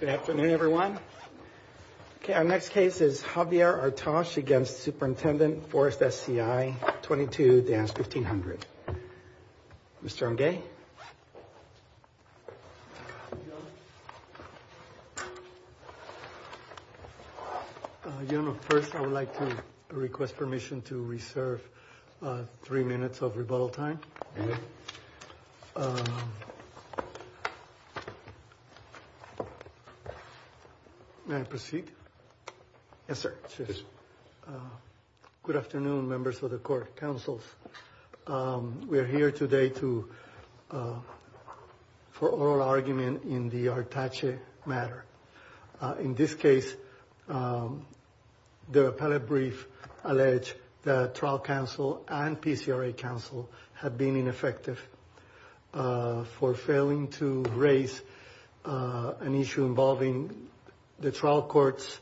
Good afternoon, everyone. Okay. Our next case is Javier Artache against Superintendent Forest SCI 22 Dance 1500. Mr. Nguye. First, I would like to request permission to reserve three minutes of rebuttal time. May I proceed? Yes, sir. Good afternoon, members of the court councils. We are here today for oral argument in the Artache matter. In this case, the appellate brief allege that trial counsel and PCRA counsel have been ineffective for failing to raise an issue involving the trial court's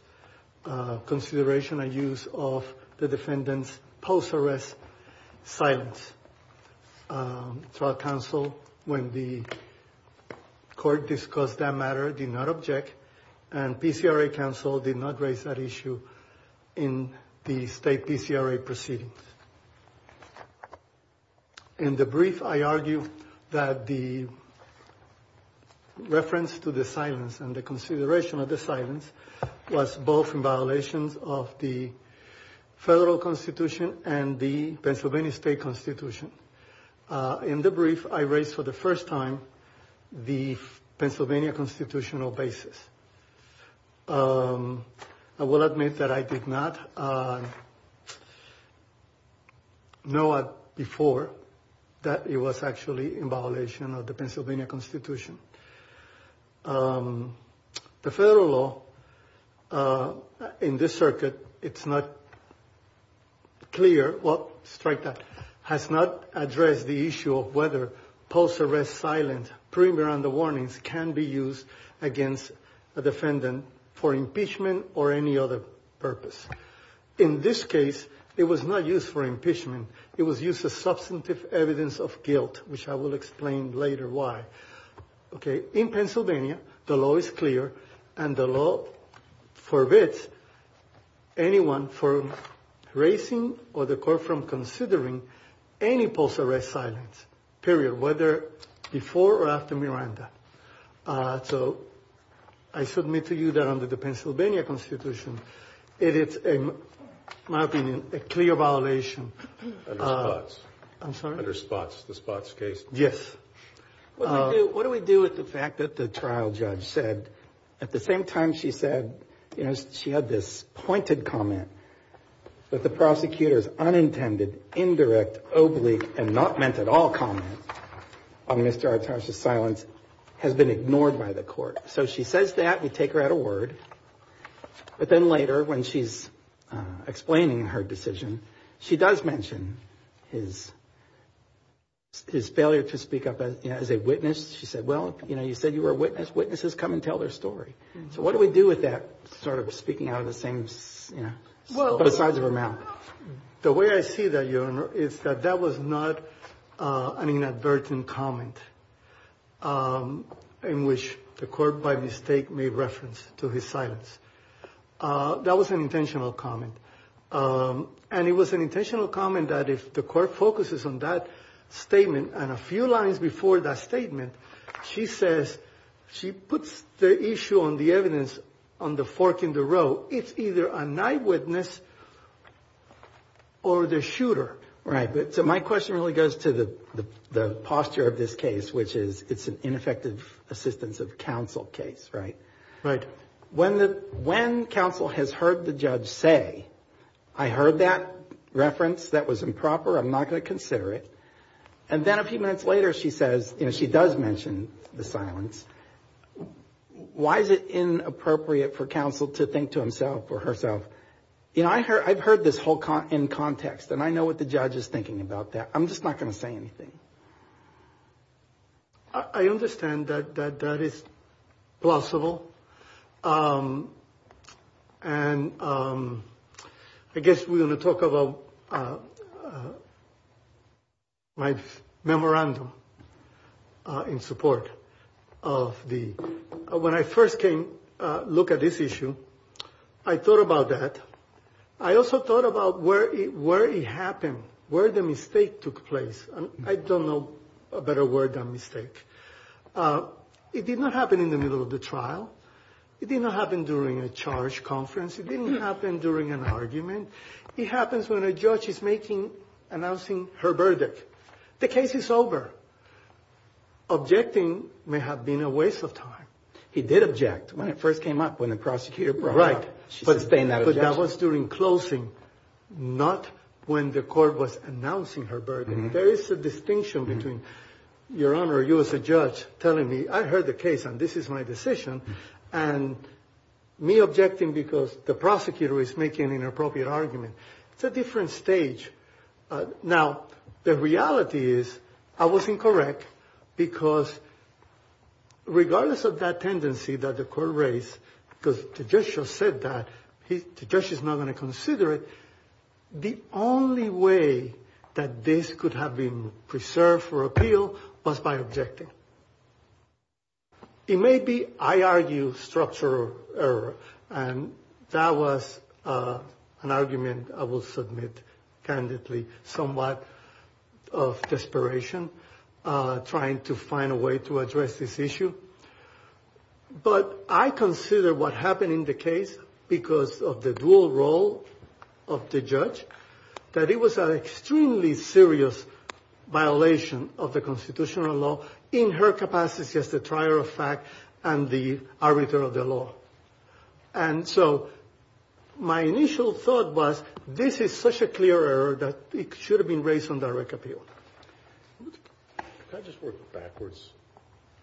consideration and use of the defendant's post arrest silence. Um, trial counsel, when the court discussed that matter, did not object and PCRA counsel did not raise that issue in the state PCRA proceedings. In the brief, I argue that the reference to the silence and the consideration of the silence was both in violations of the federal constitution and the Pennsylvania state constitution. In the brief, I raised for the first time the Pennsylvania constitutional basis. I will admit that I did not know before that it was actually in violation of the Pennsylvania constitution. Um, the federal law, uh, in this circuit, it's not clear what strike that has not addressed the issue of whether post arrest silence premier on the warnings can be used against a defendant for impeachment or any other purpose. In this case, it was not used for impeachment. It was used as substantive evidence of guilt, which I will explain later why. Okay. In Pennsylvania, the law is clear and the law forbids anyone for racing or the court from considering any post arrest silence period, whether before or after Miranda. Uh, so I submit to you that under the Pennsylvania constitution, it is, in my opinion, a clear violation. I'm sorry. Under spots, the spots case. Yes. What do we do with the fact that the trial judge said at the same time she said, you know, she had this pointed comment that the prosecutor's unintended, indirect, oblique, and not meant at all comment on Mr. Uh, explaining her decision, she does mention his, his failure to speak up as a witness. She said, well, you know, you said you were a witness. Witnesses come and tell their story. So what do we do with that sort of speaking out of the same, you know, sides of her mouth? The way I see that, your honor, is that that was not an inadvertent comment, um, in which the court by mistake made reference to his silence. Uh, that was an intentional comment. Um, and it was an intentional comment that if the court focuses on that statement and a few lines before that statement, she says she puts the issue on the evidence on the fork in the road. So it's either a night witness or the shooter. Right. So my question really goes to the, the, the posture of this case, which is it's an ineffective assistance of counsel case, right? Right. When the, when counsel has heard the judge say, I heard that reference that was improper, I'm not going to consider it. And then a few minutes later, she says, you know, she does mention the silence. Why is it inappropriate for counsel to think to himself or herself? You know, I heard I've heard this whole in context, and I know what the judge is thinking about that. I'm just not going to say anything. I understand that that that is plausible. Um, and, um, I guess we're going to talk about my memorandum in support of the when I first came look at this issue. I thought about that. I also thought about where it happened, where the mistake took place. I don't know a better word than mistake. It did not happen in the middle of the trial. It did not happen during a charge conference. It didn't happen during an argument. It happens when a judge is making, announcing her verdict. The case is over. Objecting may have been a waste of time. He did object when it first came up when the prosecutor brought it up. Right. But that was during closing, not when the court was announcing her burden. There is a distinction between your honor. You as a judge telling me I heard the case and this is my decision and me objecting because the prosecutor is making an inappropriate argument. It's a different stage. Now, the reality is I was incorrect because regardless of that tendency that the court raised, because the judge just said that, the judge is not going to consider it. The only way that this could have been preserved for appeal was by objecting. It may be I argue structural error. And that was an argument I will submit candidly, somewhat of desperation, trying to find a way to address this issue. But I consider what happened in the case, because of the dual role of the judge, that it was an extremely serious violation of the constitutional law, in her capacity as the trier of fact and the arbiter of the law. And so my initial thought was this is such a clear error that it should have been raised on direct appeal. Can I just work backwards?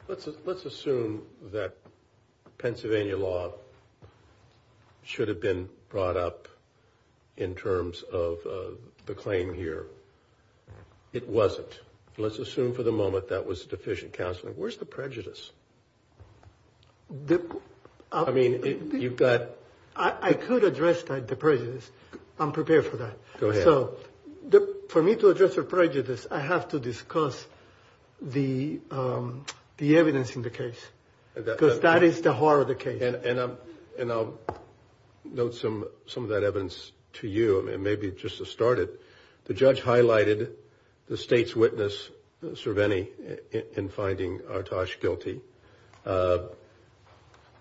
Let's assume that Pennsylvania law should have been brought up in terms of the claim here. It wasn't. Let's assume for the moment that was deficient counseling. Where's the prejudice? I mean, you've got... I could address the prejudice. I'm prepared for that. Go ahead. So for me to address the prejudice, I have to discuss the evidence in the case. Because that is the heart of the case. And I'll note some of that evidence to you, maybe just to start it. The judge highlighted the state's witness, Cerveni, in finding Artax guilty.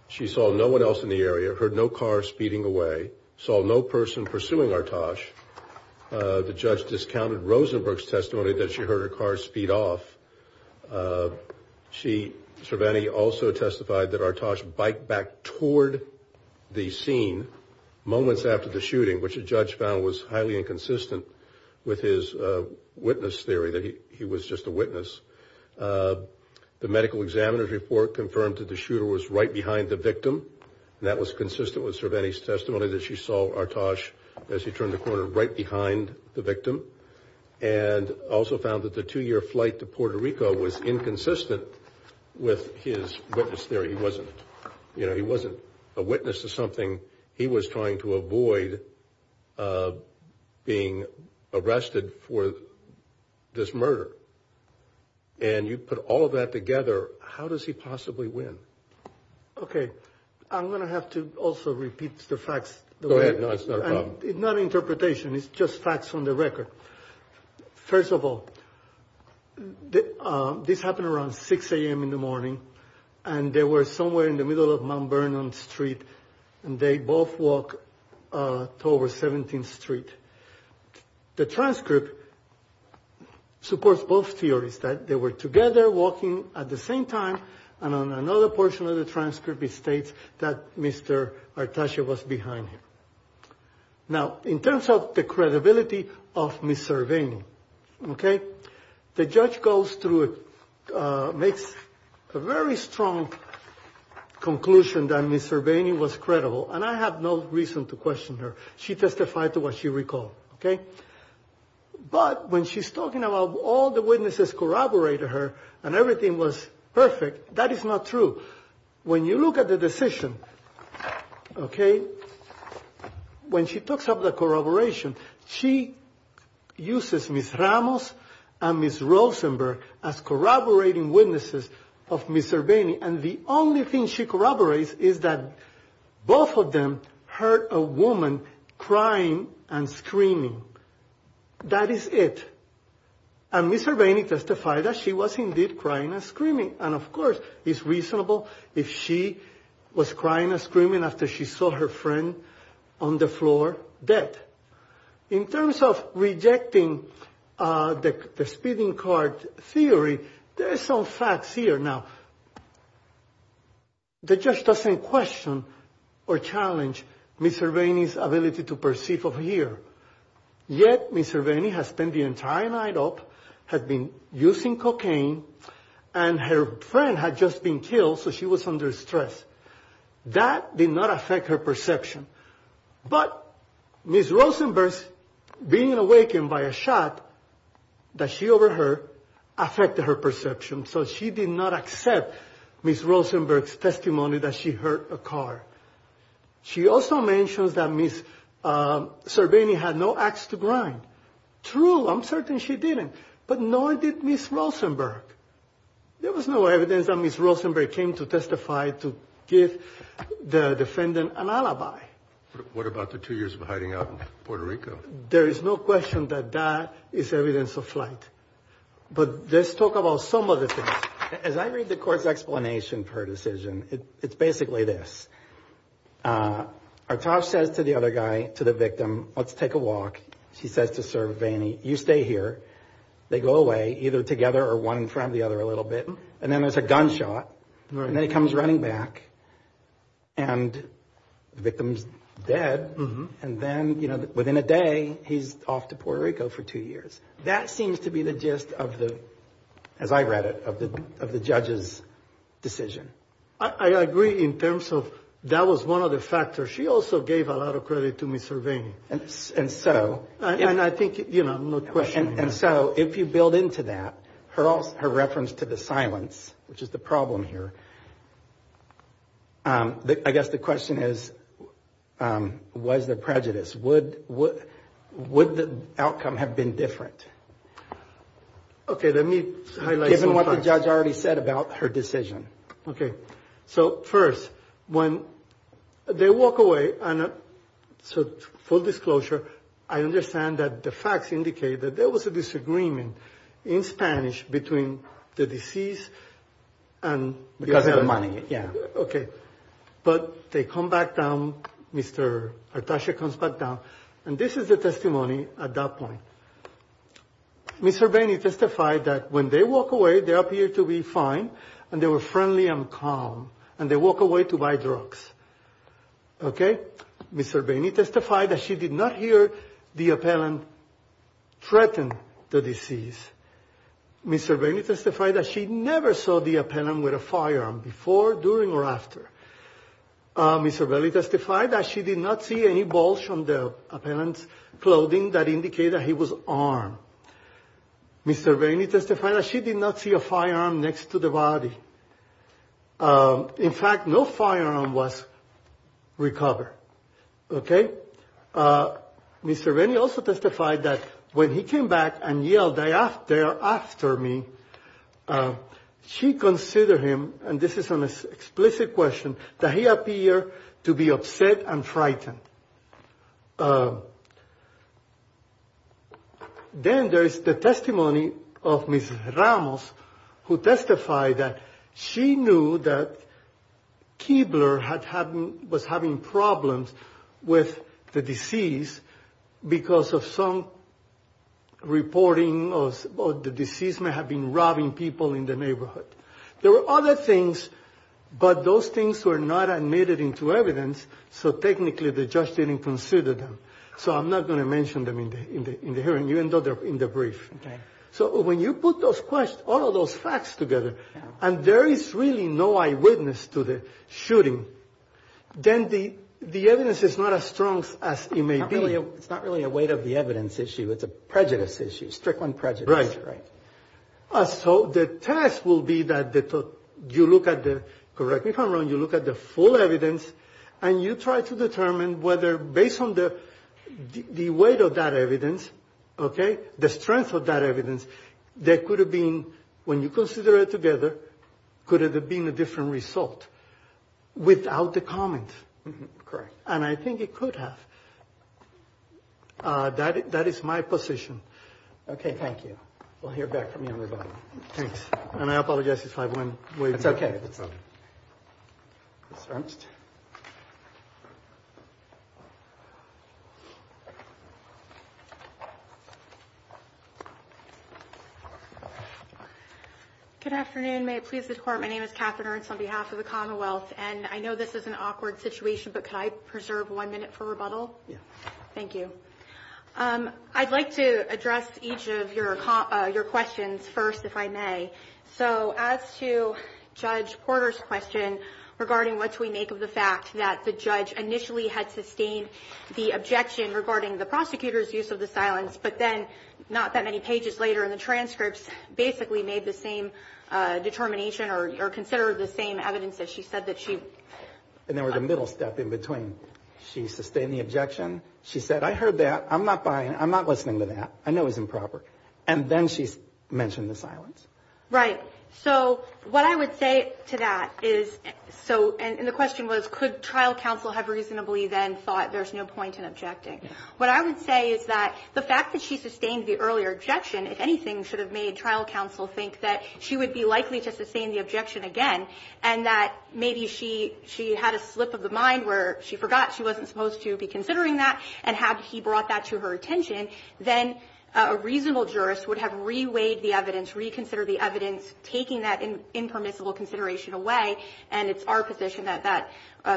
She saw no one else in the area, heard no car speeding away, saw no person pursuing Artax. The judge discounted Rosenberg's testimony that she heard her car speed off. Cerveni also testified that Artax biked back toward the scene moments after the shooting, which the judge found was highly inconsistent with his witness theory, that he was just a witness. The medical examiner's report confirmed that the shooter was right behind the victim. And that was consistent with Cerveni's testimony that she saw Artax as he turned the corner right behind the victim. And also found that the two-year flight to Puerto Rico was inconsistent with his witness theory. He wasn't a witness to something. He was trying to avoid being arrested for this murder. And you put all of that together. How does he possibly win? Okay. I'm going to have to also repeat the facts. Go ahead. It's not an interpretation. It's just facts on the record. First of all, this happened around 6 a.m. in the morning. And they were somewhere in the middle of Mount Vernon Street. And they both walk toward 17th Street. The transcript supports both theories, that they were together walking at the same time. And on another portion of the transcript, it states that Mr. Artaxia was behind him. Now, in terms of the credibility of Ms. Cerveni, okay, the judge goes through it, makes a very strong conclusion that Ms. Cerveni was credible. And I have no reason to question her. She testified to what she recalled. Okay. But when she's talking about all the witnesses corroborated her and everything was perfect, that is not true. When you look at the decision, okay, when she talks of the corroboration, she uses Ms. Ramos and Ms. Rosenberg as corroborating witnesses of Ms. Cerveni. And the only thing she corroborates is that both of them heard a woman crying and screaming. That is it. And Ms. Cerveni testified that she was indeed crying and screaming. And, of course, it's reasonable if she was crying and screaming after she saw her friend on the floor dead. In terms of rejecting the speeding car theory, there are some facts here. Now, the judge doesn't question or challenge Ms. Cerveni's ability to perceive or hear. Yet, Ms. Cerveni has spent the entire night up, has been using cocaine, and her friend had just been killed, so she was under stress. That did not affect her perception. But Ms. Rosenberg's being awakened by a shot that she overheard affected her perception. So she did not accept Ms. Rosenberg's testimony that she hurt a car. She also mentions that Ms. Cerveni had no ax to grind. True, I'm certain she didn't, but nor did Ms. Rosenberg. There was no evidence that Ms. Rosenberg came to testify to give the defendant an alibi. What about the two years of hiding out in Puerto Rico? There is no question that that is evidence of flight. But let's talk about some of the things. As I read the court's explanation for her decision, it's basically this. Artash says to the other guy, to the victim, let's take a walk. She says to Serveni, you stay here. They go away, either together or one in front of the other a little bit. And then there's a gunshot. And then he comes running back, and the victim's dead. And then, you know, within a day, he's off to Puerto Rico for two years. That seems to be the gist of the, as I read it, of the judge's decision. I agree in terms of that was one of the factors. She also gave a lot of credit to Ms. Serveni. And so? And I think, you know, no question. And so if you build into that her reference to the silence, which is the problem here, I guess the question is, was there prejudice? Would the outcome have been different? Okay, let me highlight some parts. What the judge already said about her decision. Okay. So first, when they walk away, and so full disclosure, I understand that the facts indicate that there was a disagreement in Spanish between the deceased and. Because of the money, yeah. Okay. But they come back down. Mr. Artash comes back down. And this is the testimony at that point. Ms. Serveni testified that when they walk away, they appear to be fine. And they were friendly and calm. And they walk away to buy drugs. Okay. Ms. Serveni testified that she did not hear the appellant threaten the deceased. Ms. Serveni testified that she never saw the appellant with a firearm before, during, or after. Ms. Serveni testified that she did not see any bulge on the appellant's clothing that indicated he was armed. Ms. Serveni testified that she did not see a firearm next to the body. In fact, no firearm was recovered. Okay. Ms. Serveni also testified that when he came back and yelled, they are after me, she considered him, and this is an explicit question, that he appeared to be upset and frightened. Then there is the testimony of Ms. Ramos who testified that she knew that Keebler was having problems with the deceased because of some reporting of the deceased may have been robbing people in the neighborhood. There were other things, but those things were not admitted into evidence. So technically, the judge didn't consider them. So I'm not going to mention them in the hearing, even though they're in the brief. Okay. So when you put those questions, all of those facts together, and there is really no eyewitness to the shooting, then the evidence is not as strong as it may be. It's not really a weight of the evidence issue. It's a prejudice issue, strict on prejudice. Right. Right. So the test will be that you look at the, correct me if I'm wrong, you look at the full evidence, and you try to determine whether based on the weight of that evidence, okay, the strength of that evidence, there could have been, when you consider it together, could it have been a different result without the comment? Correct. And I think it could have. That is my position. Okay. Thank you. We'll hear back from you on rebuttal. Thanks. And I apologize if I went way back. That's okay. That's all right. Ms. Ernst? Good afternoon. May it please the Court, my name is Catherine Ernst on behalf of the Commonwealth, and I know this is an awkward situation, but could I preserve one minute for rebuttal? Yes. Thank you. I'd like to address each of your questions first, if I may. So as to Judge Porter's question regarding what do we make of the fact that the judge initially had sustained the objection regarding the prosecutor's use of the silence, but then not that many pages later in the transcripts, basically made the same determination or considered the same evidence that she said that she… And there was a middle step in between. She sustained the objection. She said, I heard that. I'm not buying it. I'm not listening to that. I know it was improper. And then she mentioned the silence. Right. So what I would say to that is, so, and the question was, could trial counsel have reasonably then thought there's no point in objecting? What I would say is that the fact that she sustained the earlier objection, if anything, should have made trial counsel think that she would be likely to sustain the objection again, and that maybe she had a slip of the mind where she forgot she wasn't supposed to be considering that, and had he brought that to her attention, then a reasonable jurist would have reweighed the evidence, reconsidered the evidence, taking that impermissible consideration away, and it's our position that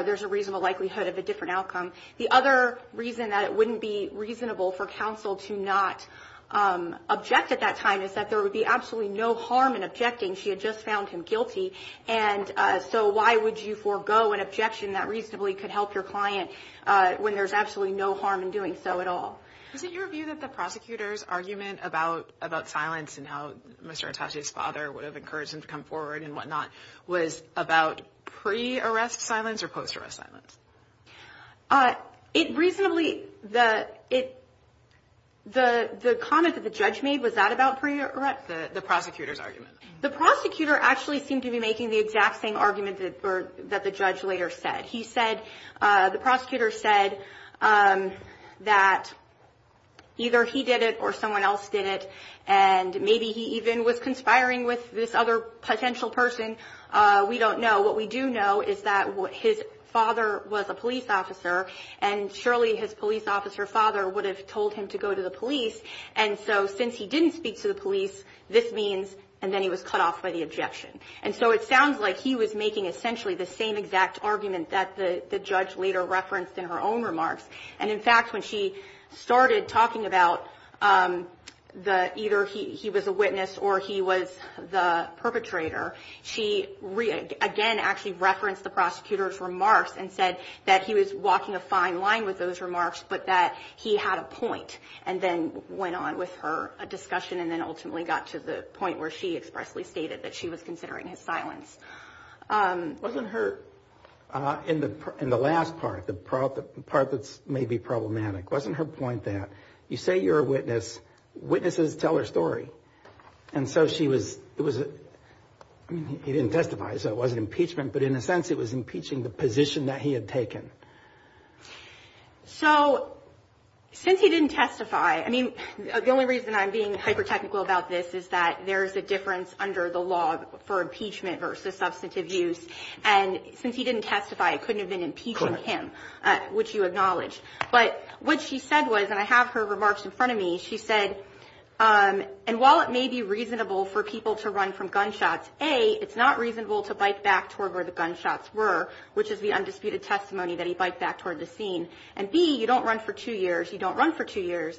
there's a reasonable likelihood of a different outcome. The other reason that it wouldn't be reasonable for counsel to not object at that time is that there would be absolutely no harm in objecting. She had just found him guilty. And so why would you forego an objection that reasonably could help your client when there's absolutely no harm in doing so at all? Was it your view that the prosecutor's argument about silence and how Mr. Atashi's father would have encouraged him to come forward and whatnot was about pre-arrest silence or post-arrest silence? It reasonably, the comment that the judge made, was that about pre-arrest? The prosecutor's argument. The prosecutor actually seemed to be making the exact same argument that the judge later said. He said, the prosecutor said that either he did it or someone else did it, and maybe he even was conspiring with this other potential person. We don't know. What we do know is that his father was a police officer, and surely his police officer father would have told him to go to the police. And so since he didn't speak to the police, this means, and then he was cut off by the objection. And so it sounds like he was making essentially the same exact argument that the judge later referenced in her own remarks. And, in fact, when she started talking about either he was a witness or he was the perpetrator, she again actually referenced the prosecutor's remarks and said that he was walking a fine line with those remarks, but that he had a point and then went on with her discussion and then ultimately got to the point where she expressly stated that she was considering his silence. Wasn't her, in the last part, the part that's maybe problematic, wasn't her point that you say you're a witness, witnesses tell their story? And so she was, it was, he didn't testify, so it wasn't impeachment, but in a sense it was impeaching the position that he had taken. So since he didn't testify, I mean, the only reason I'm being hyper-technical about this is that there is a difference under the law for impeachment versus substantive use. And since he didn't testify, it couldn't have been impeaching him, which you acknowledge. But what she said was, and I have her remarks in front of me, she said, and while it may be reasonable for people to run from gunshots, A, it's not reasonable to bike back toward where the gunshots were, which is the undisputed testimony that he biked back toward the scene, and B, you don't run for two years, you don't run for two years,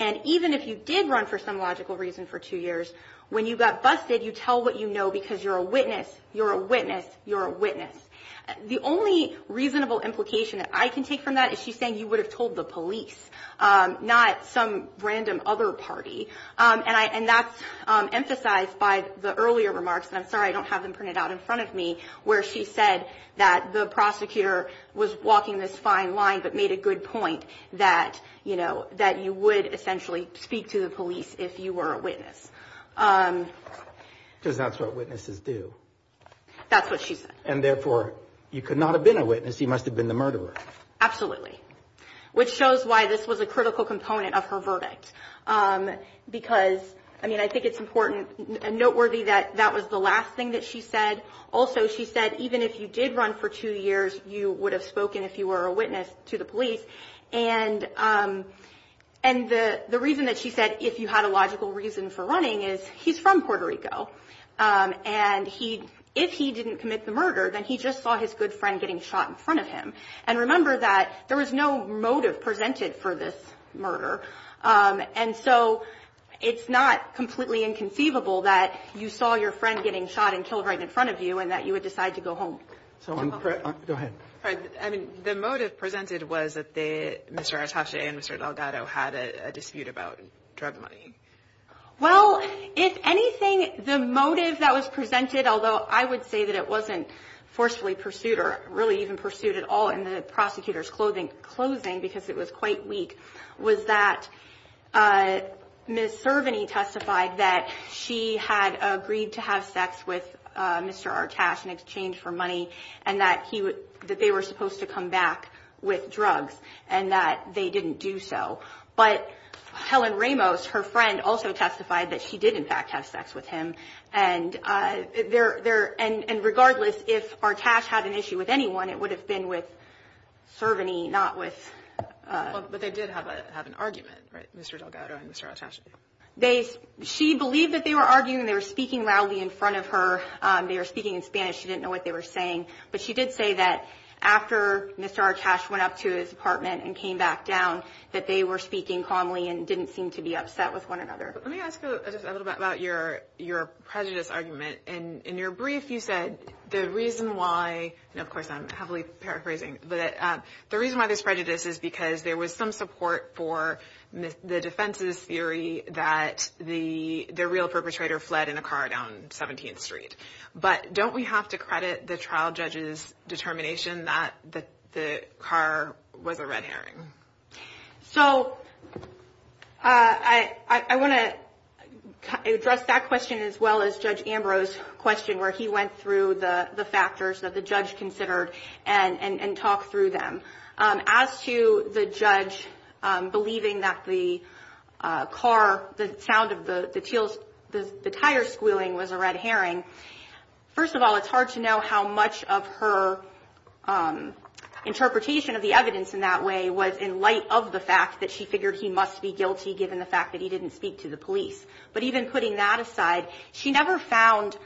and even if you did run for some logical reason for two years, when you got busted, you tell what you know because you're a witness, you're a witness, you're a witness. The only reasonable implication that I can take from that is she's saying you would have told the police, not some random other party. And that's emphasized by the earlier remarks, and I'm sorry I don't have them printed out in front of me, where she said that the prosecutor was walking this fine line but made a good point that you would essentially speak to the police if you were a witness. Because that's what witnesses do. That's what she said. And therefore, you could not have been a witness, you must have been the murderer. Absolutely. Which shows why this was a critical component of her verdict. Because, I mean, I think it's important and noteworthy that that was the last thing that she said. Also, she said even if you did run for two years, you would have spoken if you were a witness to the police. And the reason that she said if you had a logical reason for running is he's from Puerto Rico. And if he didn't commit the murder, then he just saw his good friend getting shot in front of him. And remember that there was no motive presented for this murder. And so it's not completely inconceivable that you saw your friend getting shot and killed right in front of you and that you would decide to go home. Go ahead. The motive presented was that Mr. Atashe and Mr. Delgado had a dispute about drug money. Well, if anything, the motive that was presented, although I would say that it wasn't forcefully pursued or really even pursued at all in the prosecutor's clothing, closing because it was quite weak, was that Ms. Servany testified that she had agreed to have sex with Mr. Atashe in exchange for money and that he would that they were supposed to come back with drugs and that they didn't do so. But Helen Ramos, her friend, also testified that she did, in fact, have sex with him. And they're there. And regardless, if our cash had an issue with anyone, it would have been with Servany, not with. But they did have an argument, right? Mr. Delgado and Mr. Atashe. She believed that they were arguing. They were speaking loudly in front of her. They were speaking in Spanish. She didn't know what they were saying. But she did say that after Mr. Atashe went up to his apartment and came back down, that they were speaking calmly and didn't seem to be upset with one another. Let me ask a little bit about your your prejudice argument. And in your brief, you said the reason why. And of course, I'm heavily paraphrasing. But the reason why this prejudice is because there was some support for the defense's theory that the the real perpetrator fled in a car down 17th Street. But don't we have to credit the trial judge's determination that the car was a red herring? So I want to address that question as well as Judge Ambrose's question, where he went through the factors that the judge considered and talk through them. As to the judge believing that the car, the sound of the teals, the tire squealing was a red herring. First of all, it's hard to know how much of her interpretation of the evidence in that way was in light of the fact that she figured he must be guilty, given the fact that he didn't speak to the police. But even putting that aside, she never found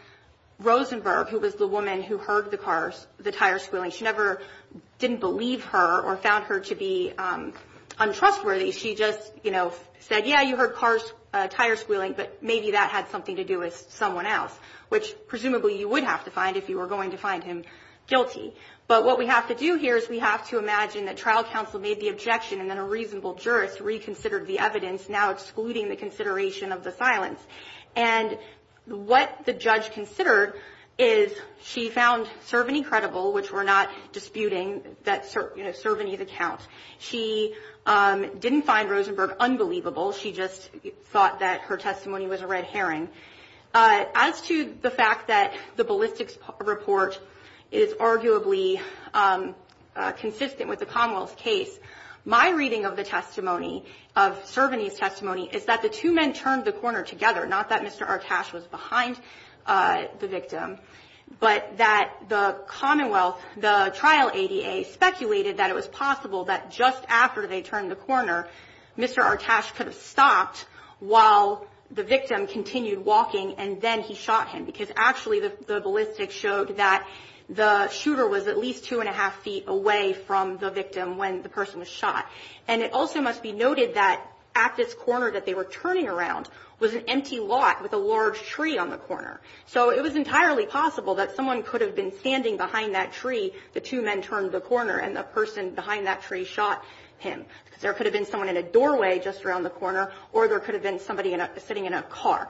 Rosenberg, who was the woman who heard the cars, the tires squealing. She never didn't believe her or found her to be untrustworthy. She just said, yeah, you heard tires squealing, but maybe that had something to do with someone else, which presumably you would have to find if you were going to find him guilty. But what we have to do here is we have to imagine that trial counsel made the objection and then a reasonable jurist reconsidered the evidence, now excluding the consideration of the silence. And what the judge considered is she found Cervini credible, which we're not disputing that Cervini's account. She didn't find Rosenberg unbelievable. She just thought that her testimony was a red herring. As to the fact that the ballistics report is arguably consistent with the Commonwealth's case, my reading of the testimony, of Cervini's testimony, is that the two men turned the corner together, not that Mr. Artash was behind the victim, but that the Commonwealth, the trial ADA, speculated that it was possible that just after they turned the corner, Mr. Artash could have stopped while the victim continued walking and then he shot him, because actually the ballistics showed that the shooter was at least two and a half feet away from the victim when the person was shot. And it also must be noted that at this corner that they were turning around was an empty lot with a large tree on the corner. So it was entirely possible that someone could have been standing behind that tree, the two men turned the corner, and the person behind that tree shot him, because there could have been someone in a doorway just around the corner, or there could have been somebody sitting in a car.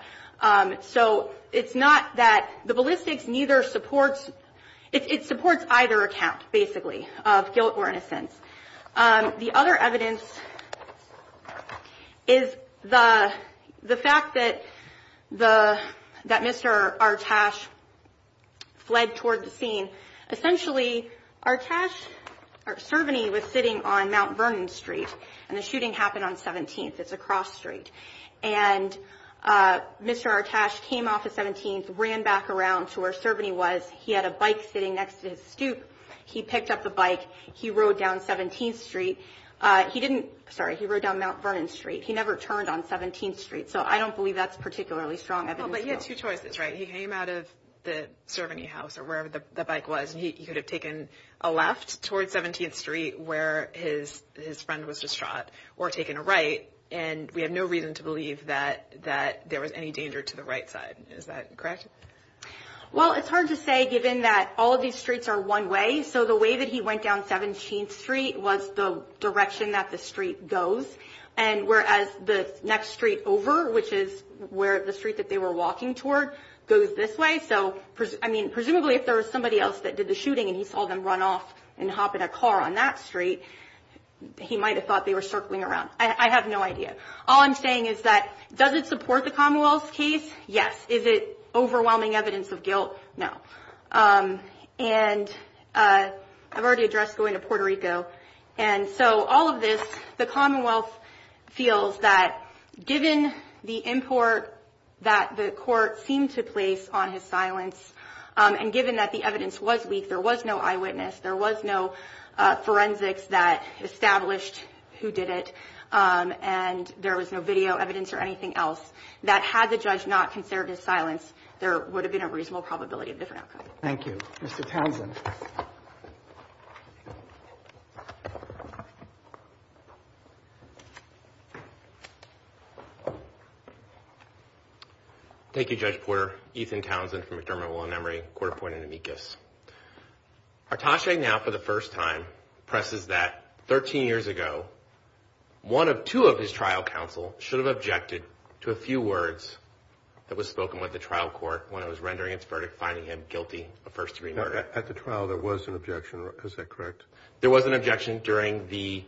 So it's not that the ballistics neither supports – it supports either account, basically, of guilt or innocence. The other evidence is the fact that Mr. Artash fled toward the scene. Essentially, Artash – or Servany was sitting on Mount Vernon Street, and the shooting happened on 17th. It's a cross street. And Mr. Artash came off of 17th, ran back around to where Servany was. He picked up the bike. He rode down 17th Street. He didn't – sorry, he rode down Mount Vernon Street. He never turned on 17th Street. So I don't believe that's particularly strong evidence. But he had two choices, right? He came out of the Servany house or wherever the bike was, and he could have taken a left toward 17th Street where his friend was just shot, or taken a right. And we have no reason to believe that there was any danger to the right side. Is that correct? Well, it's hard to say given that all of these streets are one way. So the way that he went down 17th Street was the direction that the street goes. And whereas the next street over, which is where the street that they were walking toward, goes this way. So, I mean, presumably if there was somebody else that did the shooting and he saw them run off and hop in a car on that street, he might have thought they were circling around. I have no idea. All I'm saying is that does it support the Commonwealth's case? Yes. Is it overwhelming evidence of guilt? No. And I've already addressed going to Puerto Rico. And so all of this, the Commonwealth feels that given the import that the court seemed to place on his silence, and given that the evidence was weak, there was no eyewitness, there was no forensics that established who did it, and there was no video evidence or anything else, that had the judge not considered his silence, there would have been a reasonable probability of a different outcome. Thank you. Mr. Townsend. Thank you, Judge Porter. Ethan Townsend from McDermott Law and Emory. Court appointed amicus. Artache now for the first time presses that 13 years ago, one of two of his trial counsel should have objected to a few words that was spoken by the trial court when it was rendering its verdict, finding him guilty of first-degree murder. At the trial, there was an objection. Is that correct? There was an objection during the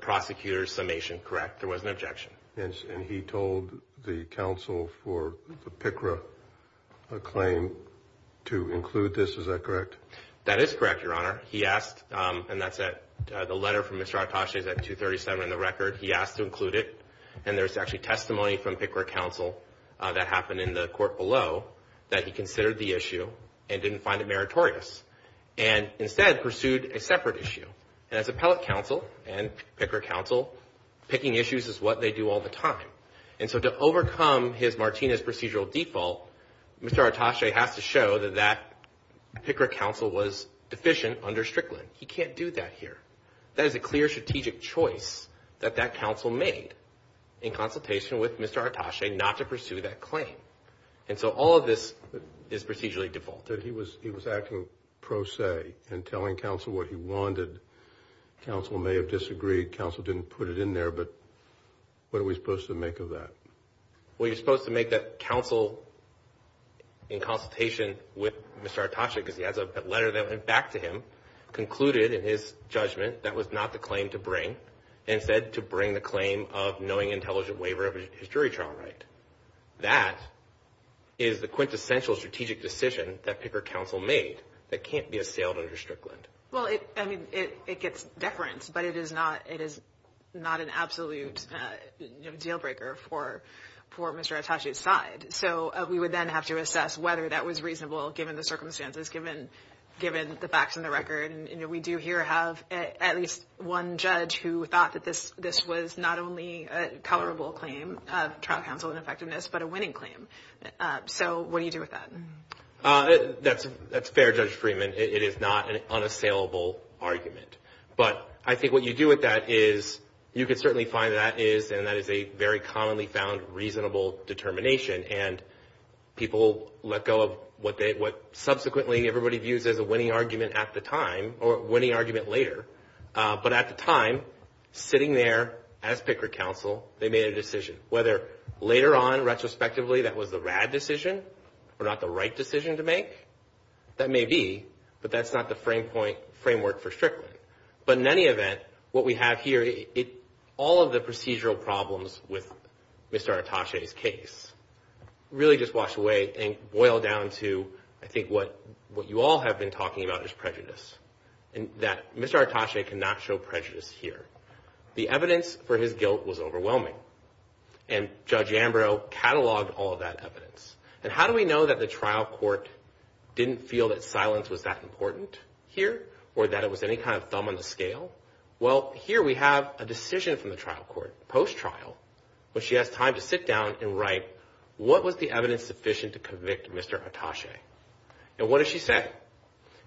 prosecutor's summation. Correct. There was an objection. And he told the counsel for the PICRA claim to include this. Is that correct? That is correct, Your Honor. He asked, and the letter from Mr. Artache is at 237 in the record. He asked to include it, and there's actually testimony from PICRA counsel that happened in the court below that he considered the issue and didn't find it meritorious, and instead pursued a separate issue. And as appellate counsel and PICRA counsel, picking issues is what they do all the time. And so to overcome his Martinez procedural default, Mr. Artache has to show that that PICRA counsel was deficient under Strickland. He can't do that here. That is a clear strategic choice that that counsel made in consultation with Mr. Artache not to pursue that claim. And so all of this is procedurally defaulted. But he was acting pro se in telling counsel what he wanted. Counsel may have disagreed. Counsel didn't put it in there. But what are we supposed to make of that? Well, you're supposed to make that counsel, in consultation with Mr. Artache, because he has a letter that went back to him, concluded in his judgment that was not the claim to bring, and said to bring the claim of knowing intelligent waiver of his jury trial right. That is the quintessential strategic decision that PICRA counsel made that can't be assailed under Strickland. Well, I mean, it gets deference, but it is not an absolute deal breaker for Mr. Artache's side. So we would then have to assess whether that was reasonable, given the circumstances, given the facts and the record. And we do here have at least one judge who thought that this was not only a tolerable claim of trial counsel ineffectiveness, but a winning claim. So what do you do with that? That's fair, Judge Freeman. It is not an unassailable argument. But I think what you do with that is you can certainly find that is, and that is a very commonly found reasonable determination. And people let go of what subsequently everybody views as a winning argument at the time, or winning argument later. But at the time, sitting there as PICRA counsel, they made a decision. Whether later on, retrospectively, that was the rad decision or not the right decision to make, that may be. But that's not the framework for Strickland. But in any event, what we have here, all of the procedural problems with Mr. Artache's case really just wash away and boil down to, I think, what you all have been talking about is prejudice. And that Mr. Artache cannot show prejudice here. The evidence for his guilt was overwhelming. And Judge Ambrose cataloged all of that evidence. And how do we know that the trial court didn't feel that silence was that important here, or that it was any kind of thumb on the scale? Well, here we have a decision from the trial court, post-trial, where she has time to sit down and write, what was the evidence sufficient to convict Mr. Artache? And what does she say?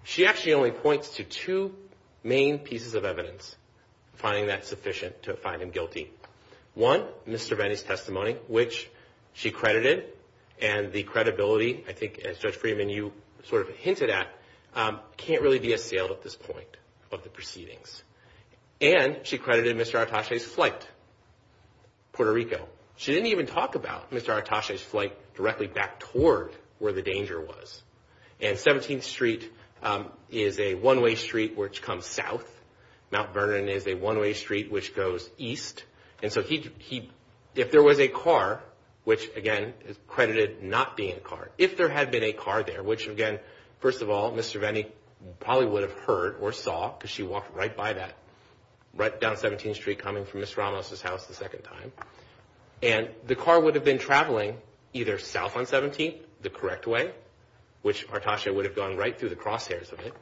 She actually only points to two main pieces of evidence, finding that sufficient to find him guilty. One, Mr. Venni's testimony, which she credited. And the credibility, I think, as Judge Friedman, you sort of hinted at, can't really be assailed at this point of the proceedings. And she credited Mr. Artache's flight, Puerto Rico. She didn't even talk about Mr. Artache's flight directly back toward where the danger was. And 17th Street is a one-way street which comes south. Mount Vernon is a one-way street which goes east. And so if there was a car, which, again, is credited not being a car, if there had been a car there, which, again, first of all, Mr. Venni probably would have heard or saw because she walked right by that, right down 17th Street coming from Ms. Ramos' house the second time. And the car would have been traveling either south on 17th the correct way, which Artache would have gone right through the crosshairs of it,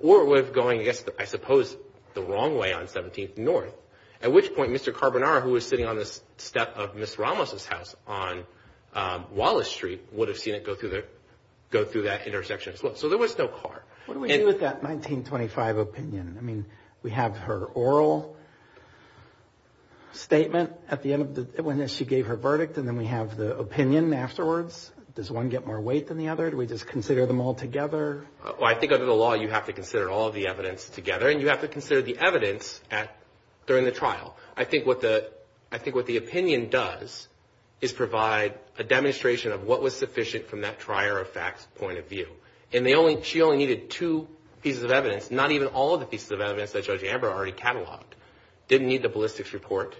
or would have gone, I guess, I suppose, the wrong way on 17th North, at which point Mr. Carbonara, who was sitting on the step of Ms. Ramos' house on Wallace Street, would have seen it go through that intersection as well. So there was no car. What do we do with that 1925 opinion? I mean, we have her oral statement at the end of the, when she gave her verdict, and then we have the opinion afterwards. Does one get more weight than the other? Do we just consider them all together? Well, I think under the law you have to consider all of the evidence together, and you have to consider the evidence during the trial. I think what the opinion does is provide a demonstration of what was sufficient from that trier of facts point of view. And she only needed two pieces of evidence, not even all of the pieces of evidence that Judge Amber already cataloged. Didn't need the ballistics report.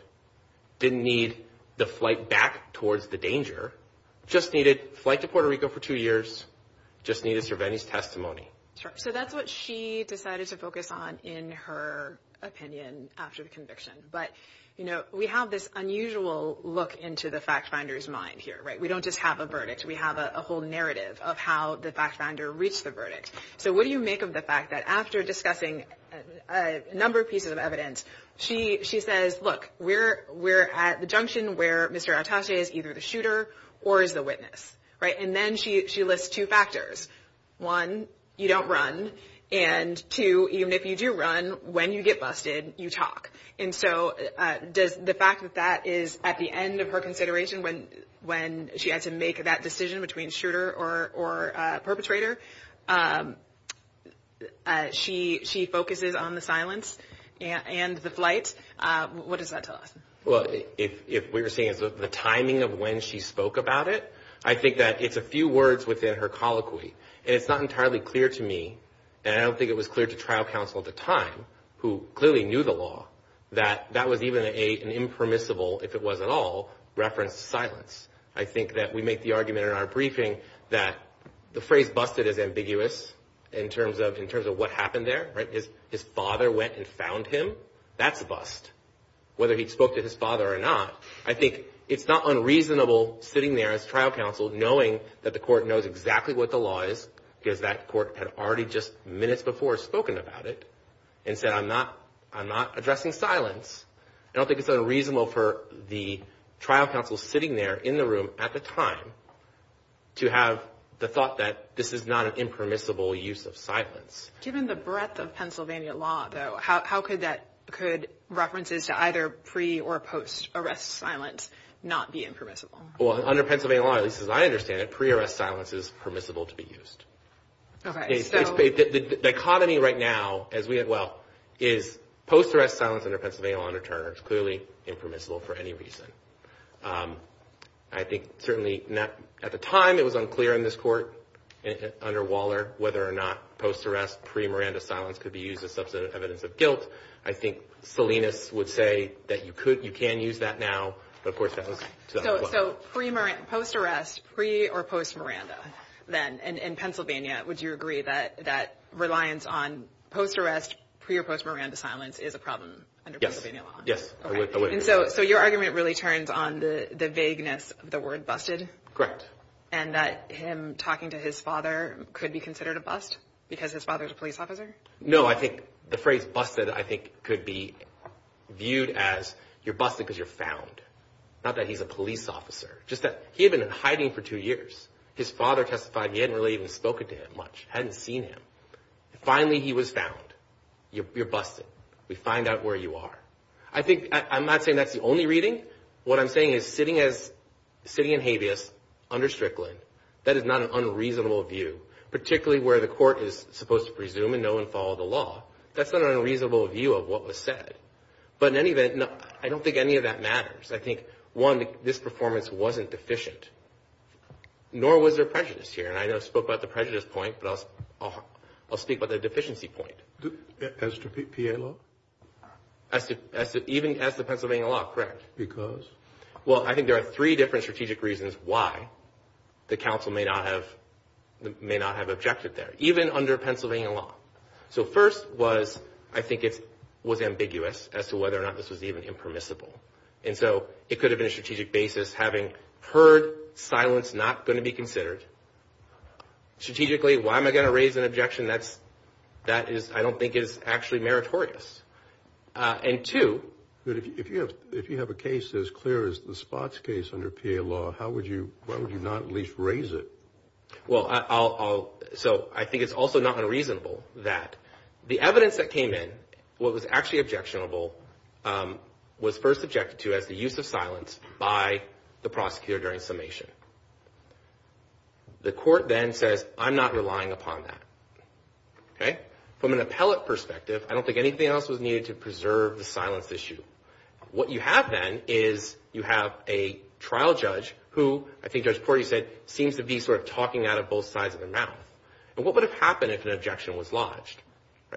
Didn't need the flight back towards the danger. Just needed flight to Puerto Rico for two years. Just needed Cervantes' testimony. So that's what she decided to focus on in her opinion after the conviction. But, you know, we have this unusual look into the fact finder's mind here, right? We don't just have a verdict. We have a whole narrative of how the fact finder reached the verdict. So what do you make of the fact that after discussing a number of pieces of evidence, she says, look, we're at the junction where Mr. Atashe is either the shooter or is the witness, right? And then she lists two factors. One, you don't run. And two, even if you do run, when you get busted, you talk. And so does the fact that that is at the end of her consideration when she had to make that decision between shooter or perpetrator, she focuses on the silence and the flight? What does that tell us? Well, if we were saying it's the timing of when she spoke about it, I think that it's a few words within her colloquy. And it's not entirely clear to me, and I don't think it was clear to trial counsel at the time, who clearly knew the law, that that was even an impermissible, if it was at all, reference to silence. I think that we make the argument in our briefing that the phrase busted is ambiguous in terms of what happened there, right? His father went and found him. That's bust, whether he spoke to his father or not. I think it's not unreasonable, sitting there as trial counsel, knowing that the court knows exactly what the law is, because that court had already just minutes before spoken about it and said, I'm not addressing silence. I don't think it's unreasonable for the trial counsel sitting there in the room at the time to have the thought that this is not an impermissible use of silence. Given the breadth of Pennsylvania law, though, how could references to either pre- or post-arrest silence not be impermissible? Well, under Pennsylvania law, at least as I understand it, pre-arrest silence is permissible to be used. The dichotomy right now is post-arrest silence under Pennsylvania law under Turner is clearly impermissible for any reason. I think certainly at the time it was unclear in this court under Waller whether or not post-arrest, pre-Miranda silence could be used as substantive evidence of guilt. I think Salinas would say that you can use that now, but of course that was to that effect. So post-arrest, pre- or post-Miranda, then, in Pennsylvania, would you agree that reliance on post-arrest, pre- or post-Miranda silence is a problem under Pennsylvania law? Yes. So your argument really turns on the vagueness of the word busted? Correct. And that him talking to his father could be considered a bust because his father's a police officer? No, I think the phrase busted, I think, could be viewed as you're busted because you're found, not that he's a police officer. Just that he had been in hiding for two years. His father testified he hadn't really even spoken to him much, hadn't seen him. Finally, he was found. You're busted. We find out where you are. I think I'm not saying that's the only reading. What I'm saying is sitting in habeas under Strickland, that is not an unreasonable view, particularly where the court is supposed to presume and know and follow the law. That's not an unreasonable view of what was said. But in any event, I don't think any of that matters. I think, one, this performance wasn't deficient, nor was there prejudice here. And I know I spoke about the prejudice point, but I'll speak about the deficiency point. As to PA law? Even as to Pennsylvania law, correct. Because? Well, I think there are three different strategic reasons why the counsel may not have objected there, even under Pennsylvania law. So first was, I think it was ambiguous as to whether or not this was even impermissible. And so it could have been a strategic basis, having heard silence not going to be considered. Strategically, why am I going to raise an objection that I don't think is actually meritorious? And two. If you have a case as clear as the Spots case under PA law, why would you not at least raise it? Well, so I think it's also not unreasonable that the evidence that came in, what was actually objectionable, was first objected to as the use of silence by the prosecutor during summation. The court then says, I'm not relying upon that. From an appellate perspective, I don't think anything else was needed to preserve the silence issue. What you have then is you have a trial judge who, I think Judge Portey said, seems to be sort of talking out of both sides of their mouth. And what would have happened if an objection was lodged?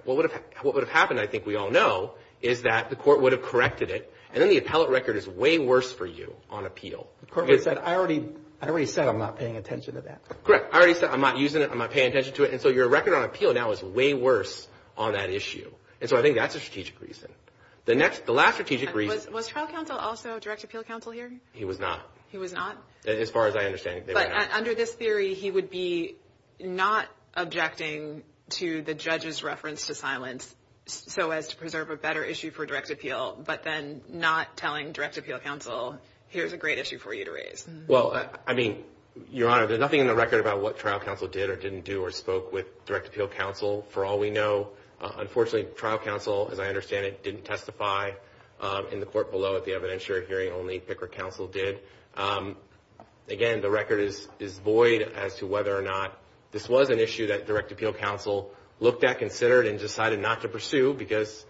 What would have happened, I think we all know, is that the court would have corrected it, and then the appellate record is way worse for you on appeal. The court would have said, I already said I'm not paying attention to that. Correct. I already said I'm not using it, I'm not paying attention to it. And so your record on appeal now is way worse on that issue. And so I think that's a strategic reason. The last strategic reason. Was trial counsel also direct appeal counsel here? He was not. He was not? As far as I understand it, they were not. But under this theory, he would be not objecting to the judge's reference to silence so as to preserve a better issue for direct appeal, but then not telling direct appeal counsel, here's a great issue for you to raise. Well, I mean, Your Honor, there's nothing in the record about what trial counsel did or didn't do or spoke with direct appeal counsel. For all we know, unfortunately, trial counsel, as I understand it, didn't testify in the court below at the evidentiary hearing. Only picker counsel did. Again, the record is void as to whether or not this was an issue that direct appeal counsel looked at, considered, and decided not to pursue, because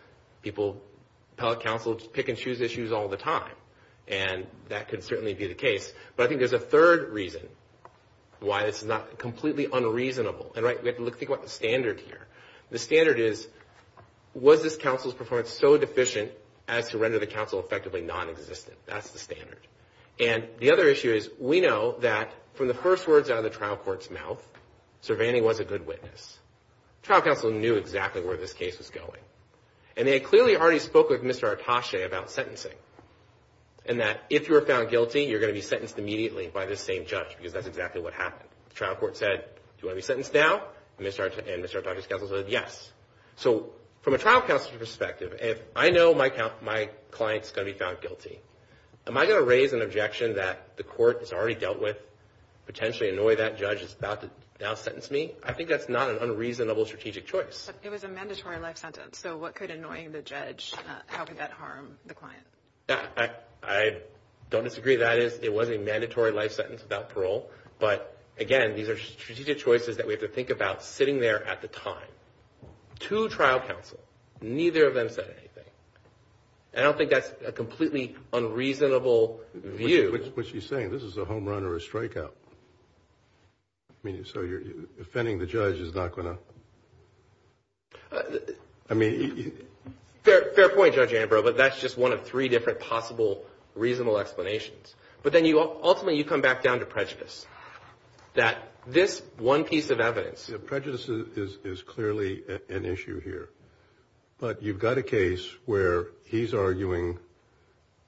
appellate counsel pick and choose issues all the time, and that could certainly be the case. But I think there's a third reason why this is completely unreasonable. And, right, we have to think about the standard here. The standard is, was this counsel's performance so deficient as to render the counsel effectively nonexistent? That's the standard. And the other issue is, we know that from the first words out of the trial court's mouth, Cervante was a good witness. Trial counsel knew exactly where this case was going. And they clearly already spoke with Mr. Atasche about sentencing and that if you were found guilty, you're going to be sentenced immediately by this same judge, because that's exactly what happened. The trial court said, do you want to be sentenced now? And Mr. Atasche's counsel said, yes. So from a trial counsel's perspective, if I know my client's going to be found guilty, am I going to raise an objection that the court has already dealt with, potentially annoy that judge that's about to now sentence me? I think that's not an unreasonable strategic choice. But it was a mandatory life sentence. So what could annoying the judge, how could that harm the client? I don't disagree. That is, it was a mandatory life sentence without parole. But, again, these are strategic choices that we have to think about sitting there at the time. Two trial counsel, neither of them said anything. I don't think that's a completely unreasonable view. What she's saying, this is a home run or a strikeout. So offending the judge is not going to – I mean – Fair point, Judge Ambrose, but that's just one of three different possible reasonable explanations. But then ultimately you come back down to prejudice, that this one piece of evidence. Prejudice is clearly an issue here. But you've got a case where he's arguing,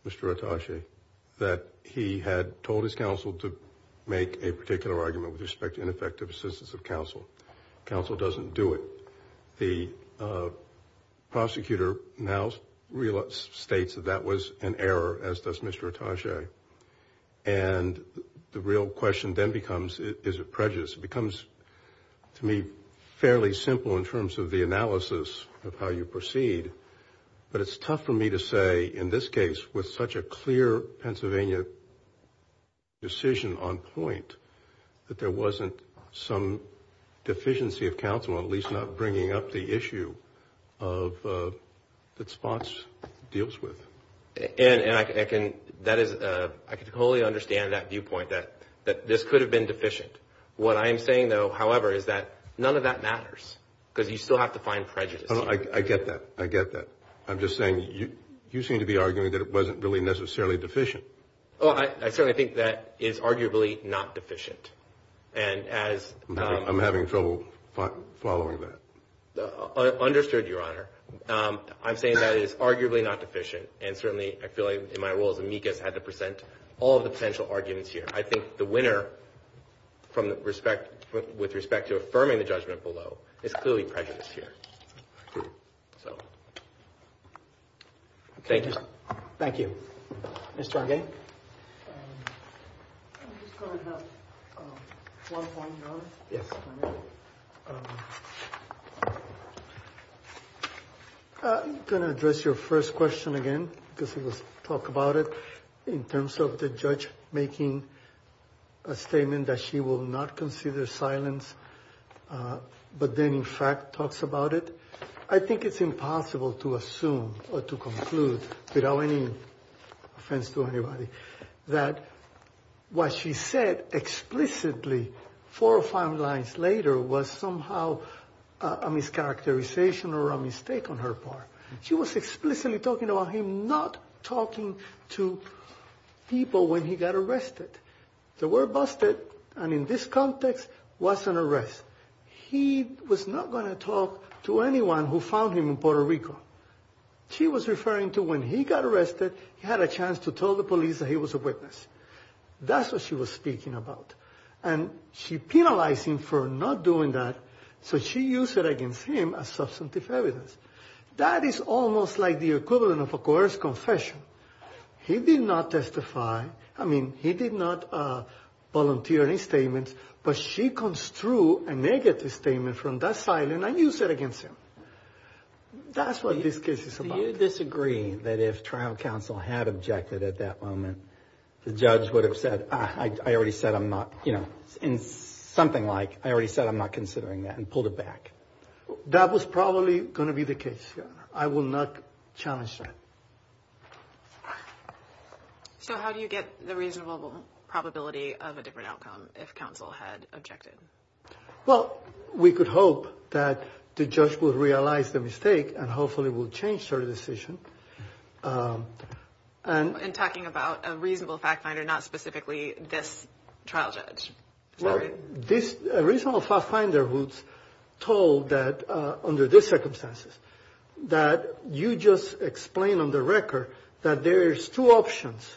Mr. Attache, that he had told his counsel to make a particular argument with respect to ineffective assistance of counsel. Counsel doesn't do it. The prosecutor now states that that was an error, as does Mr. Attache. And the real question then becomes, is it prejudice? It becomes, to me, fairly simple in terms of the analysis of how you proceed. But it's tough for me to say, in this case, with such a clear Pennsylvania decision on point, that there wasn't some deficiency of counsel, at least not bringing up the issue that Spence deals with. And I can wholly understand that viewpoint, that this could have been deficient. What I am saying, though, however, is that none of that matters because you still have to find prejudice. I get that. I get that. I'm just saying you seem to be arguing that it wasn't really necessarily deficient. Well, I certainly think that it is arguably not deficient. And as — I'm having trouble following that. Understood, Your Honor. I'm saying that it is arguably not deficient. And certainly, I feel like in my role as amicus, I had to present all of the potential arguments here. I think the winner, with respect to affirming the judgment below, is clearly prejudice here. Thank you. Thank you. Mr. Argue? I'm just going to have one point, Your Honor. Yes. I'm going to address your first question again because it was talked about it in terms of the judge making a statement that she will not consider silence, but then, in fact, talks about it. I think it's impossible to assume or to conclude without any offense to anybody that what she said explicitly four or five lines later was somehow a mischaracterization or a mistake on her part. She was explicitly talking about him not talking to people when he got arrested. The word busted, and in this context, was an arrest. He was not going to talk to anyone who found him in Puerto Rico. She was referring to when he got arrested, he had a chance to tell the police that he was a witness. That's what she was speaking about. And she penalized him for not doing that, so she used it against him as substantive evidence. That is almost like the equivalent of a coerced confession. He did not testify. I mean, he did not volunteer any statements, but she construed a negative statement from that silence and used it against him. That's what this case is about. Do you disagree that if trial counsel had objected at that moment, the judge would have said, I already said I'm not, you know, something like, I already said I'm not considering that and pulled it back? I will not challenge that. So how do you get the reasonable probability of a different outcome if counsel had objected? Well, we could hope that the judge would realize the mistake and hopefully would change her decision. And talking about a reasonable fact finder, not specifically this trial judge. This reasonable fact finder was told that under the circumstances that you just explain on the record that there's two options.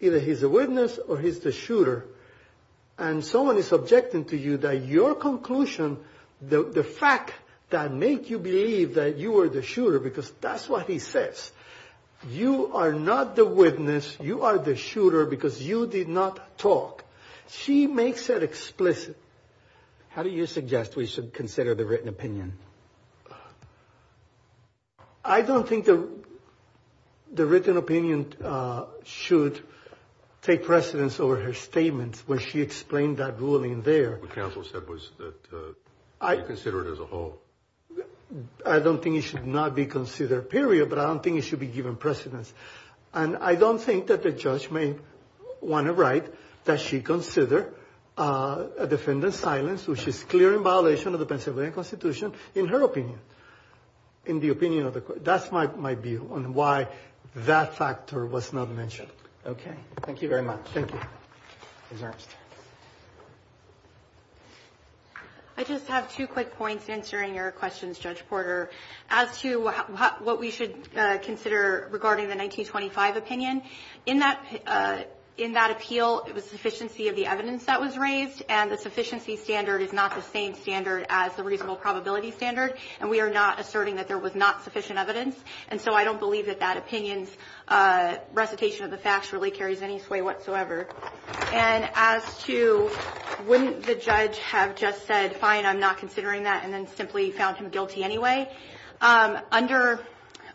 Either he's a witness or he's the shooter. And someone is objecting to you that your conclusion, the fact that make you believe that you are the shooter, because that's what he says. You are not the witness. You are the shooter because you did not talk. She makes it explicit. How do you suggest we should consider the written opinion? I don't think the written opinion should take precedence over her statements when she explained that ruling there. What counsel said was that you consider it as a whole. I don't think it should not be considered, period. But I don't think it should be given precedence. And I don't think that the judge may want to write that she considered a defendant's silence, which is clear in violation of the Pennsylvania Constitution, in her opinion, in the opinion of the court. That's my view on why that factor was not mentioned. Okay. Thank you very much. Thank you. Ms. Ernst. I just have two quick points in answering your questions, Judge Porter. As to what we should consider regarding the 1925 opinion, in that appeal it was sufficiency of the evidence that was raised, and the sufficiency standard is not the same standard as the reasonable probability standard, and we are not asserting that there was not sufficient evidence. And so I don't believe that that opinion's recitation of the facts really carries any sway whatsoever. And as to wouldn't the judge have just said, fine, I'm not considering that, and then simply found him guilty anyway, under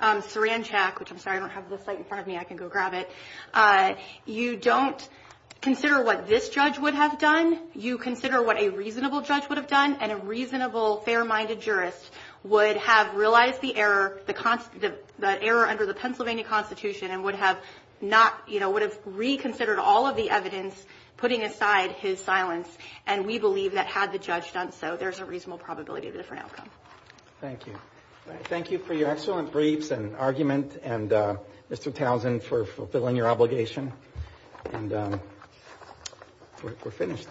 Saranchak, which I'm sorry, I don't have the site in front of me, I can go grab it, you don't consider what this judge would have done. You consider what a reasonable judge would have done, and a reasonable, fair-minded jurist would have realized the error under the Pennsylvania Constitution and would have reconsidered all of the evidence, putting aside his silence. And we believe that had the judge done so, there's a reasonable probability of a different outcome. Thank you. Thank you for your excellent briefs and argument, and Mr. Townsend, for fulfilling your obligation. And we're finished.